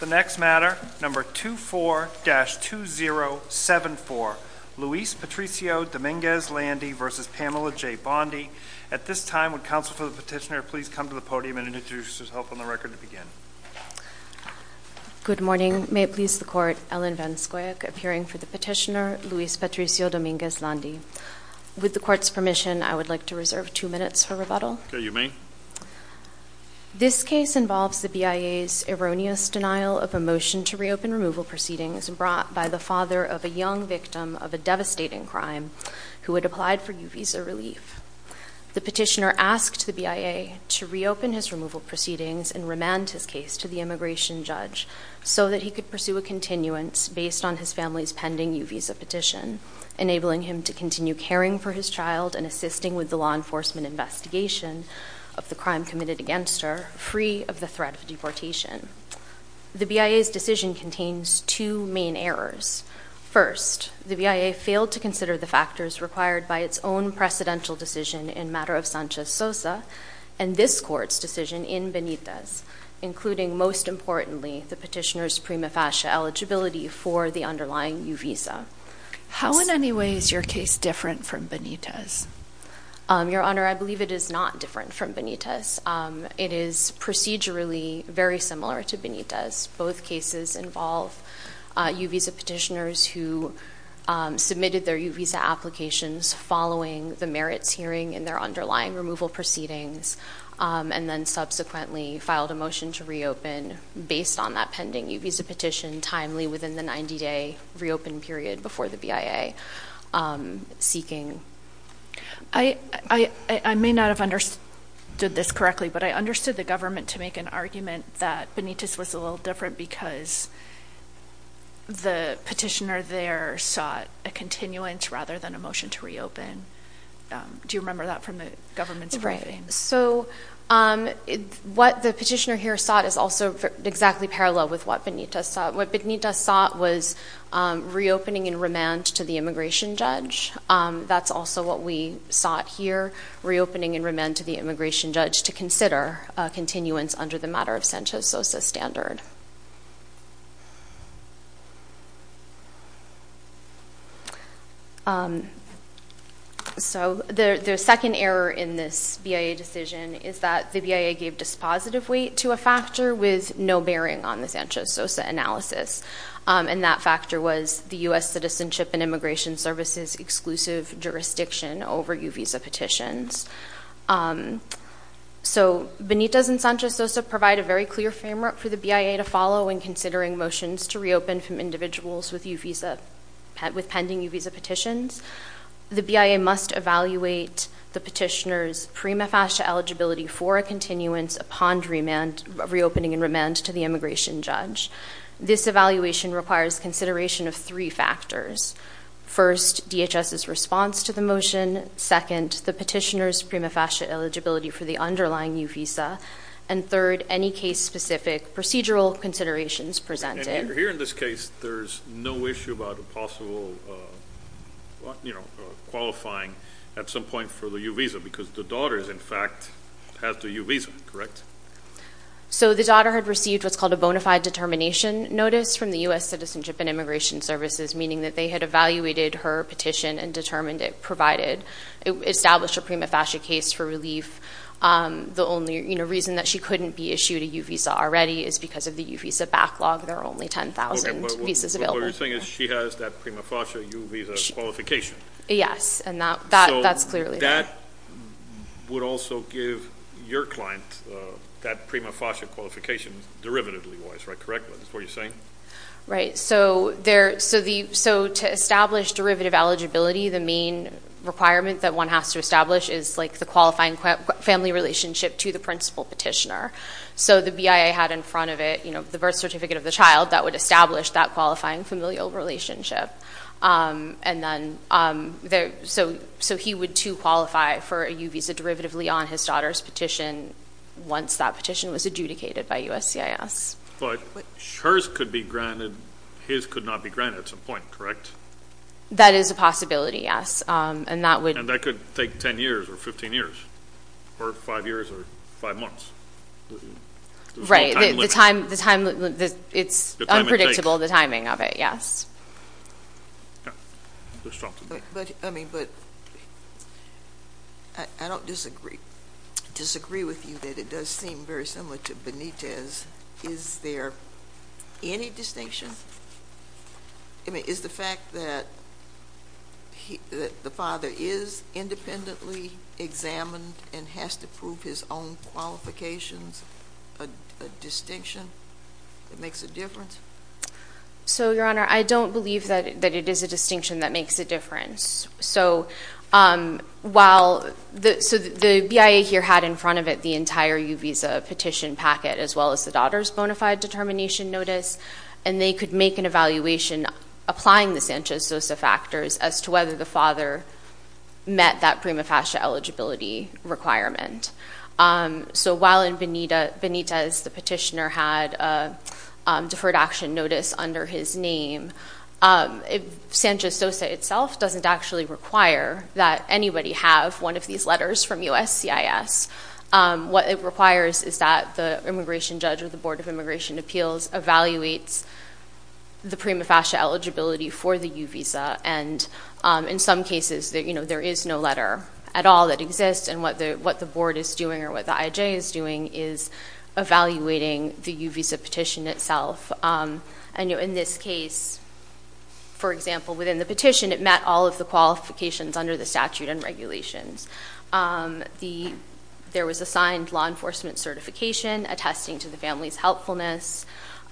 The next matter, number 24-2074, Luis Patricio Dominguez-Landi v. Pamela J. Bondi. At this time, would counsel for the petitioner please come to the podium and introduce herself on the record to begin? Good morning. May it please the court, Ellen VanSkoyak appearing for the petitioner, Luis Patricio Dominguez-Landi. With the court's permission, I would like to reserve two minutes for rebuttal. Okay, you may. This case involves the BIA's erroneous denial of a motion to reopen removal proceedings brought by the father of a young victim of a devastating crime who had applied for U-Visa relief. The petitioner asked the BIA to reopen his removal proceedings and remand his case to the immigration judge so that he could pursue a continuance based on his family's pending U-Visa petition, enabling him to continue caring for his child and assisting with the law enforcement investigation of the crime committed against her, free of the threat of deportation. The BIA's decision contains two main errors. First, the BIA failed to consider the factors required by its own precedential decision in matter of Sanchez-Sosa and this court's decision in Benitez, including most importantly the petitioner's prima facie eligibility for the underlying U-Visa. How in any way is your case different from Benitez? Your Honor, I believe it is not different from Benitez. It is procedurally very similar to Benitez. Both cases involve U-Visa petitioners who submitted their U-Visa applications following the merits hearing in their underlying removal proceedings and then subsequently filed a motion to reopen based on that pending U-Visa petition timely within the 90-day reopen period before the BIA seeking. I may not have understood this correctly, but I understood the government to make an argument that Benitez was a little different because the petitioner there sought a continuance rather than a motion to reopen. Do you remember that from the government's briefing? So what the petitioner here sought is also exactly parallel with what Benitez sought. What Benitez sought was reopening in remand to the immigration judge. That's also what we sought here, reopening in remand to the immigration judge to consider a continuance under the matter of Sanchez-Sosa standard. So the second error in this BIA decision is that the BIA gave dispositive weight to a And that factor was the U.S. Citizenship and Immigration Services exclusive jurisdiction over U-Visa petitions. So Benitez and Sanchez-Sosa provide a very clear framework for the BIA to follow in considering motions to reopen from individuals with pending U-Visa petitions. The BIA must evaluate the petitioner's prima facie eligibility for a continuance upon reopening in remand to the immigration judge. This evaluation requires consideration of three factors. First, DHS's response to the motion. Second, the petitioner's prima facie eligibility for the underlying U-Visa. And third, any case-specific procedural considerations presented. And here in this case, there's no issue about a possible qualifying at some point for the U-Visa because the daughter in fact has the U-Visa, correct? So the daughter had received what's called a bona fide determination notice from the U.S. Citizenship and Immigration Services, meaning that they had evaluated her petition and determined it provided, established a prima facie case for relief. The only reason that she couldn't be issued a U-Visa already is because of the U-Visa backlog. There are only 10,000 visas available. Okay, but what you're saying is she has that prima facie U-Visa qualification. Yes, and that's clearly there. And that would also give your client that prima facie qualification derivatively-wise, right? Correct? Is that what you're saying? Right. So to establish derivative eligibility, the main requirement that one has to establish is the qualifying family relationship to the principal petitioner. So the BIA had in front of it the birth certificate of the child that would establish that qualifying familial relationship. So he would, too, qualify for a U-Visa derivatively on his daughter's petition once that petition was adjudicated by USCIS. But hers could be granted, his could not be granted at some point, correct? That is a possibility, yes. And that could take 10 years or 15 years or 5 years or 5 months. Right. The time limit. It's unpredictable, the timing of it, yes. Yeah. Let's talk about that. But, I mean, but I don't disagree with you that it does seem very similar to Benitez. Is there any distinction? I mean, is the fact that the father is independently examined and has to prove his own qualifications a distinction that makes a difference? So, Your Honor, I don't believe that it is a distinction that makes a difference. So while, so the BIA here had in front of it the entire U-Visa petition packet as well as the daughter's bona fide determination notice, and they could make an evaluation applying the Sanchez-Sosa factors as to whether the father met that prima facie eligibility requirement. So while in Benitez the petitioner had a deferred action notice under his name, Sanchez-Sosa itself doesn't actually require that anybody have one of these letters from USCIS. What it requires is that the immigration judge or the Board of Immigration Appeals evaluates the prima facie eligibility for the U-Visa. And in some cases, there is no letter at all that exists, and what the board is doing or what the IJ is doing is evaluating the U-Visa petition itself. And in this case, for example, within the petition it met all of the qualifications under the statute and regulations. There was a signed law enforcement certification attesting to the family's helpfulness.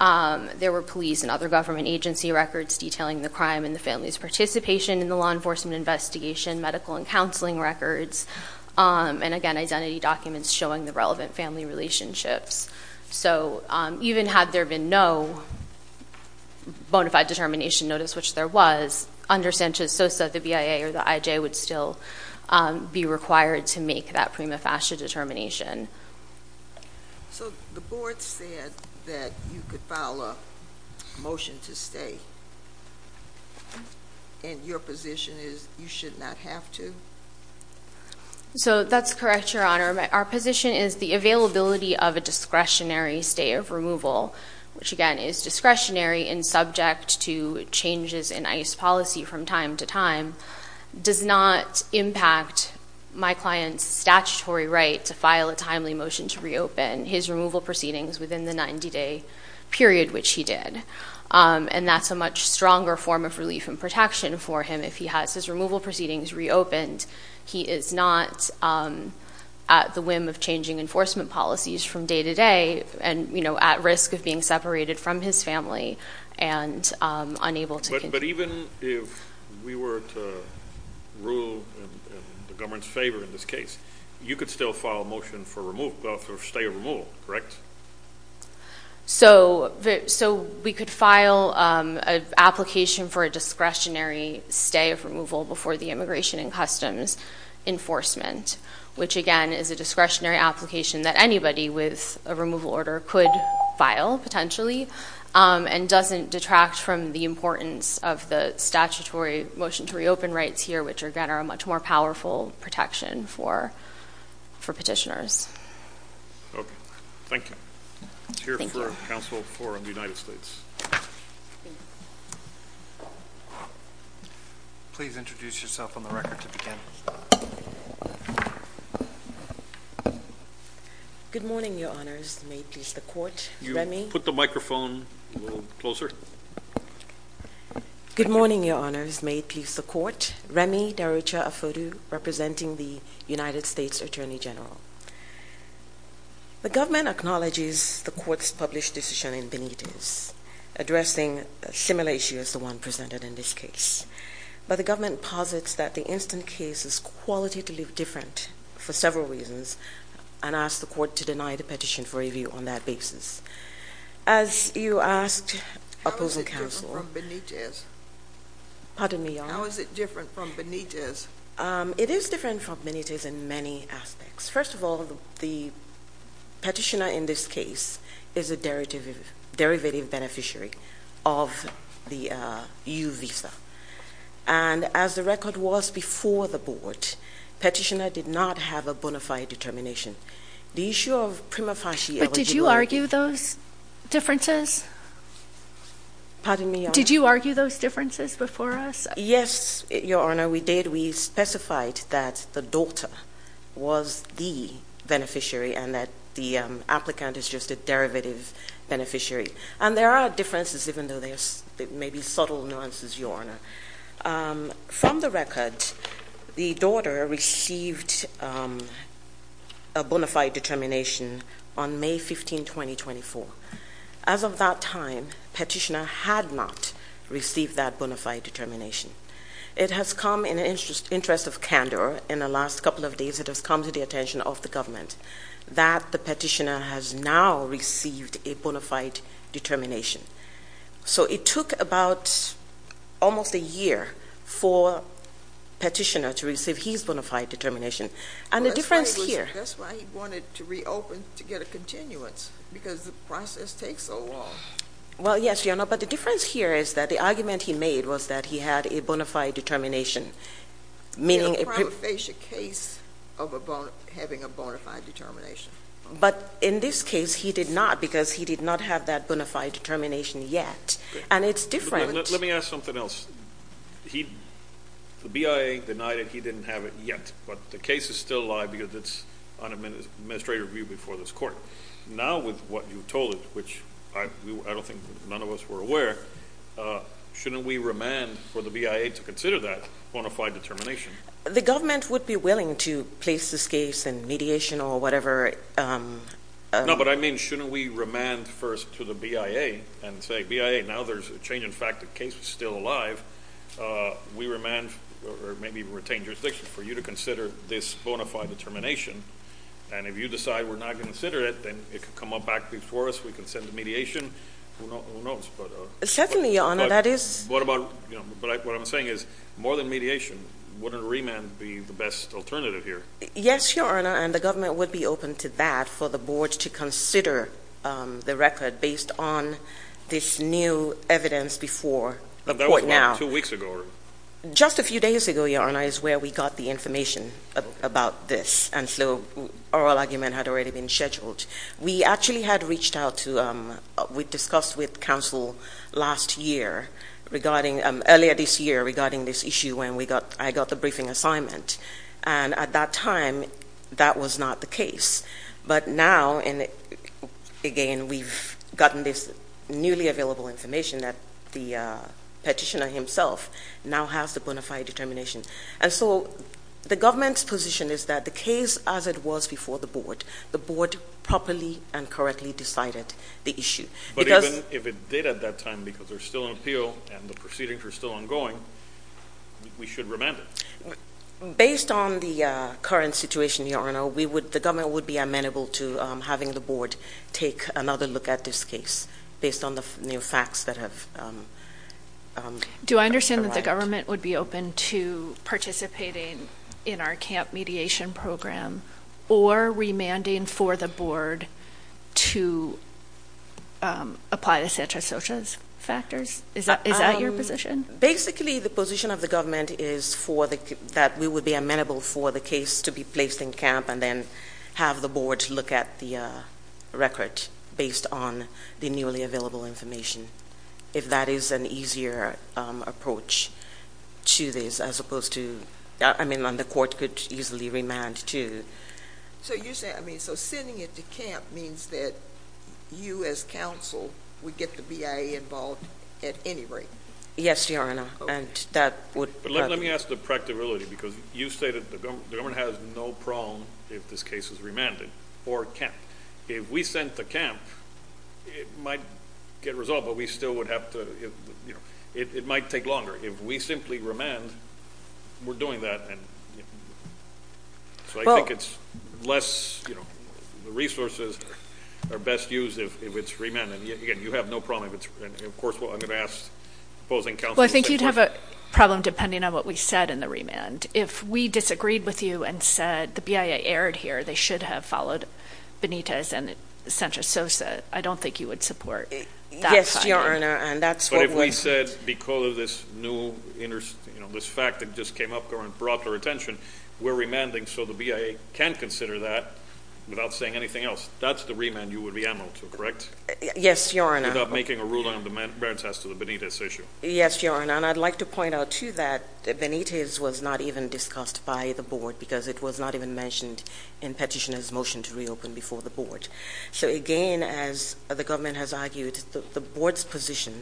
There were police and other government agency records detailing the crime and the family's participation in the law enforcement investigation, medical and counseling records, and again identity documents showing the relevant family relationships. So even had there been no bona fide determination notice, which there was, under Sanchez-Sosa the BIA or the IJ would still be required to make that prima facie determination. So the board said that you could file a motion to stay, and your position is you should not have to? So that's correct, Your Honor. Our position is the availability of a discretionary stay of removal, which again is discretionary and subject to changes in ICE policy from time to time, does not impact my client's statutory right to file a timely motion to reopen his removal proceedings within the 90-day period which he did. And that's a much stronger form of relief and protection for him if he has his removal proceedings reopened. He is not at the whim of changing enforcement policies from day to day and, you know, at risk of being separated from his family and unable to continue. If we were to rule in the government's favor in this case, you could still file a motion for stay of removal, correct? So we could file an application for a discretionary stay of removal before the Immigration and Customs Enforcement, which again is a discretionary application that anybody with a removal order could file, potentially, and doesn't detract from the importance of the statutory motion to reopen rights here, which again are a much more powerful protection for petitioners. Okay. Thank you. Thank you. It's here for Council for the United States. Please introduce yourself on the record to begin. Good morning, Your Honors. May it please the Court. Remy? Put the microphone a little closer. Good morning, Your Honors. May it please the Court. Remy Darucha Afodu representing the United States Attorney General. The government acknowledges the Court's published decision in Benitez addressing a similar issue as the one presented in this case. But the government posits that the instant case is qualitatively different for several reasons and asks the Court to deny the petition for review on that basis. As you asked Opposing Counsel— How is it different from Benitez? Pardon me, Your Honors. How is it different from Benitez? It is different from Benitez in many aspects. First of all, the petitioner in this case is a derivative beneficiary of the U visa. And as the record was before the Board, petitioner did not have a bona fide determination. The issue of prima facie eligibility— Differences? Pardon me, Your Honors. Did you argue those differences before us? Yes, Your Honor, we did. We specified that the daughter was the beneficiary and that the applicant is just a derivative beneficiary. And there are differences, even though there may be subtle nuances, Your Honor. From the record, the daughter received a bona fide determination on May 15, 2024. As of that time, petitioner had not received that bona fide determination. It has come in the interest of candor in the last couple of days, it has come to the attention of the government, that the petitioner has now received a bona fide determination. So it took about almost a year for petitioner to receive his bona fide determination. And the difference here— That's why he wanted to reopen to get a continuance, because the process takes so long. Well, yes, Your Honor, but the difference here is that the argument he made was that he had a bona fide determination, meaning— In a prima facie case of having a bona fide determination. But in this case, he did not, because he did not have that bona fide determination yet. And it's different— Let me ask something else. The BIA denied that he didn't have it yet, but the case is still alive because it's on administrative review before this court. Now, with what you told us, which I don't think none of us were aware, shouldn't we remand for the BIA to consider that bona fide determination? The government would be willing to place this case in mediation or whatever— No, but I mean, shouldn't we remand first to the BIA and say, BIA, now there's a change in fact. The case is still alive. We remand or maybe even retain jurisdiction for you to consider this bona fide determination. And if you decide we're not going to consider it, then it could come back before us. We can send the mediation. Who knows? Certainly, Your Honor, that is— What I'm saying is more than mediation, wouldn't remand be the best alternative here? Yes, Your Honor, and the government would be open to that for the board to consider the record based on this new evidence before the court now. That was about two weeks ago, or— Just a few days ago, Your Honor, is where we got the information about this. And so oral argument had already been scheduled. We actually had reached out to—we discussed with counsel last year regarding—earlier this year regarding this issue when I got the briefing assignment. And at that time, that was not the case. But now, again, we've gotten this newly available information that the petitioner himself now has the bona fide determination. And so the government's position is that the case as it was before the board, the board properly and correctly decided the issue. But even if it did at that time because there's still an appeal and the proceedings are still ongoing, we should remand it. Based on the current situation, Your Honor, the government would be amenable to having the board take another look at this case based on the new facts that have— Do I understand that the government would be open to participating in our camp mediation program or remanding for the board to apply the centrosocial factors? Is that your position? Basically, the position of the government is that we would be amenable for the case to be placed in camp and then have the board look at the record based on the newly available information. If that is an easier approach to this as opposed to—I mean, the court could easily remand to— So you say—I mean, so sending it to camp means that you as counsel would get the BIA involved at any rate? Yes, Your Honor, and that would— But let me ask the practicality because you say that the government has no problem if this case is remanded or camp. If we sent to camp, it might get resolved, but we still would have to—it might take longer. If we simply remand, we're doing that. So I think it's less—the resources are best used if it's remanded. You have no problem if it's—and, of course, I'm going to ask opposing counsel— Well, I think you'd have a problem depending on what we said in the remand. If we disagreed with you and said the BIA erred here, they should have followed Benitez and Sanchez-Sosa. I don't think you would support that. Yes, Your Honor, and that's what we— But if we said because of this new—this fact that just came up and brought to our attention, we're remanding so the BIA can consider that without saying anything else, that's the remand you would be amenable to, correct? Yes, Your Honor. Without making a ruling on the merits as to the Benitez issue. Yes, Your Honor, and I'd like to point out, too, that Benitez was not even discussed by the Board because it was not even mentioned in Petitioner's motion to reopen before the Board. So, again, as the government has argued, the Board's position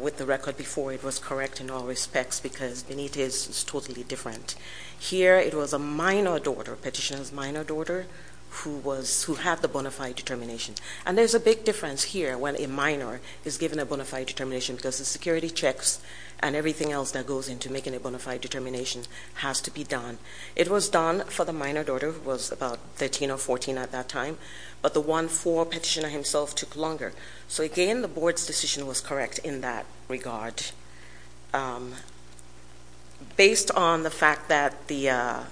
with the record before it was correct in all respects because Benitez is totally different. Here it was a minor daughter, Petitioner's minor daughter, who had the bona fide determination. And there's a big difference here when a minor is given a bona fide determination because the security checks and everything else that goes into making a bona fide determination has to be done. It was done for the minor daughter who was about 13 or 14 at that time, but the one for Petitioner himself took longer. So, again, the Board's decision was correct in that regard. Based on the fact that the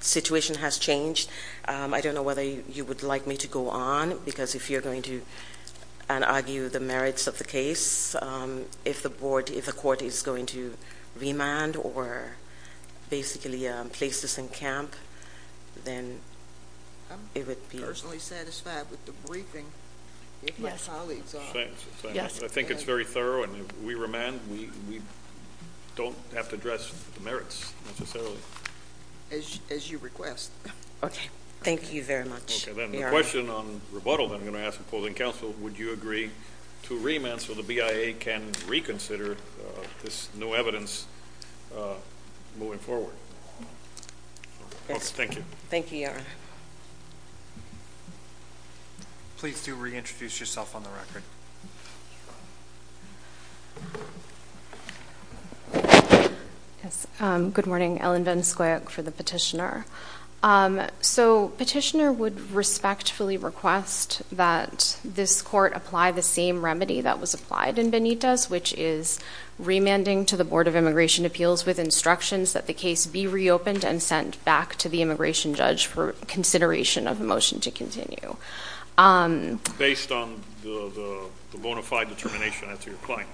situation has changed, I don't know whether you would like me to go on because if you're going to argue the merits of the case, if the Court is going to remand or basically place this in camp, then it would be... I'm personally satisfied with the briefing. Yes. I think it's very thorough, and if we remand, we don't have to address the merits necessarily. As you request. Okay. Thank you very much. Then the question on rebuttal that I'm going to ask opposing counsel, would you agree to remand so the BIA can reconsider this new evidence moving forward? Yes. Thank you. Thank you, Your Honor. Please do reintroduce yourself on the record. Yes. Good morning. Ellen Van Skuyk for the Petitioner. So Petitioner would respectfully request that this Court apply the same remedy that was applied in Benitez, which is remanding to the Board of Immigration Appeals with instructions that the case be reopened and sent back to the immigration judge for consideration of a motion to continue. Based on the bona fide determination, I take your point.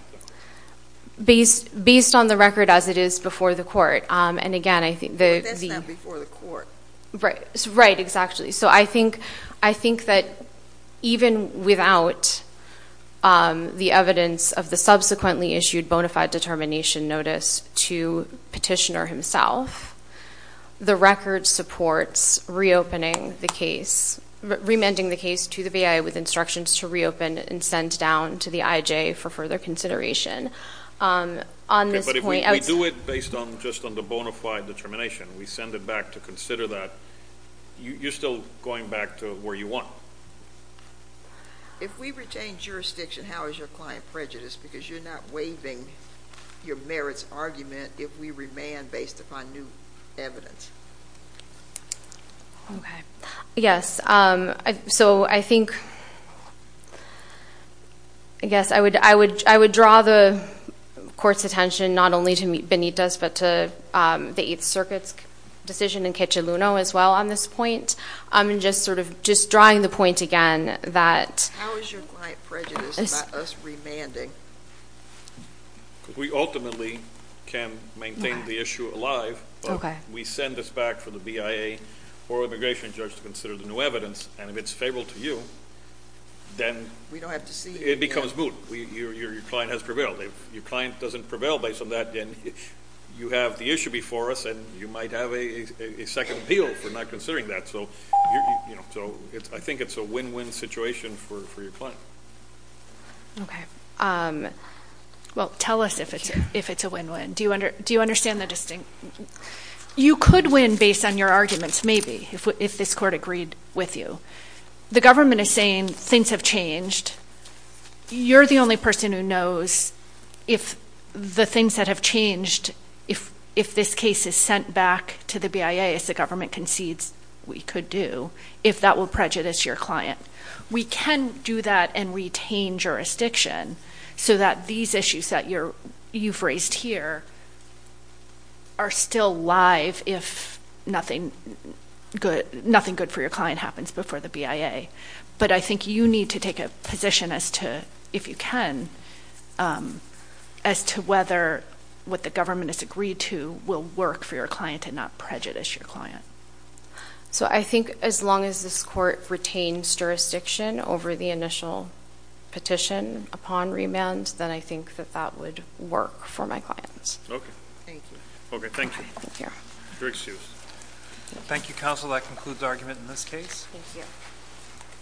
Based on the record as it is before the Court. And, again, I think the... That's not before the Court. Right. Exactly. So I think that even without the evidence of the subsequently issued bona fide determination notice to Petitioner himself, the record supports reopening the case, remanding the case to the BIA with instructions to reopen and send down to the IJ for further consideration. On this point... Okay, but if we do it based just on the bona fide determination, we send it back to consider that, you're still going back to where you want. If we retain jurisdiction, how is your client prejudiced? Because you're not waiving your merits argument if we remand based upon new evidence. Okay. Yes. So I think... I guess I would draw the Court's attention not only to meet Benita's, but to the Eighth Circuit's decision in Cachaluno as well on this point. And just sort of just drawing the point again that... How is your client prejudiced about us remanding? Because we ultimately can maintain the issue alive. Okay. We send this back for the BIA or immigration judge to consider the new evidence, and if it's favorable to you, then it becomes moot. Your client has prevailed. If your client doesn't prevail based on that, then you have the issue before us, and you might have a second appeal for not considering that. So I think it's a win-win situation for your client. Okay. Well, tell us if it's a win-win. Do you understand the distinct... You could win based on your arguments, maybe, if this Court agreed with you. The government is saying things have changed. You're the only person who knows if the things that have changed, if this case is sent back to the BIA as the government concedes we could do, if that will prejudice your client. We can do that and retain jurisdiction so that these issues that you've raised here are still live if nothing good for your client happens before the BIA. But I think you need to take a position, if you can, as to whether what the government has agreed to will work for your client and not prejudice your client. So I think as long as this Court retains jurisdiction over the initial petition upon remand, then I think that that would work for my client. Thank you. Okay, thank you. You're excused. Thank you, counsel. That concludes argument in this case. Thank you.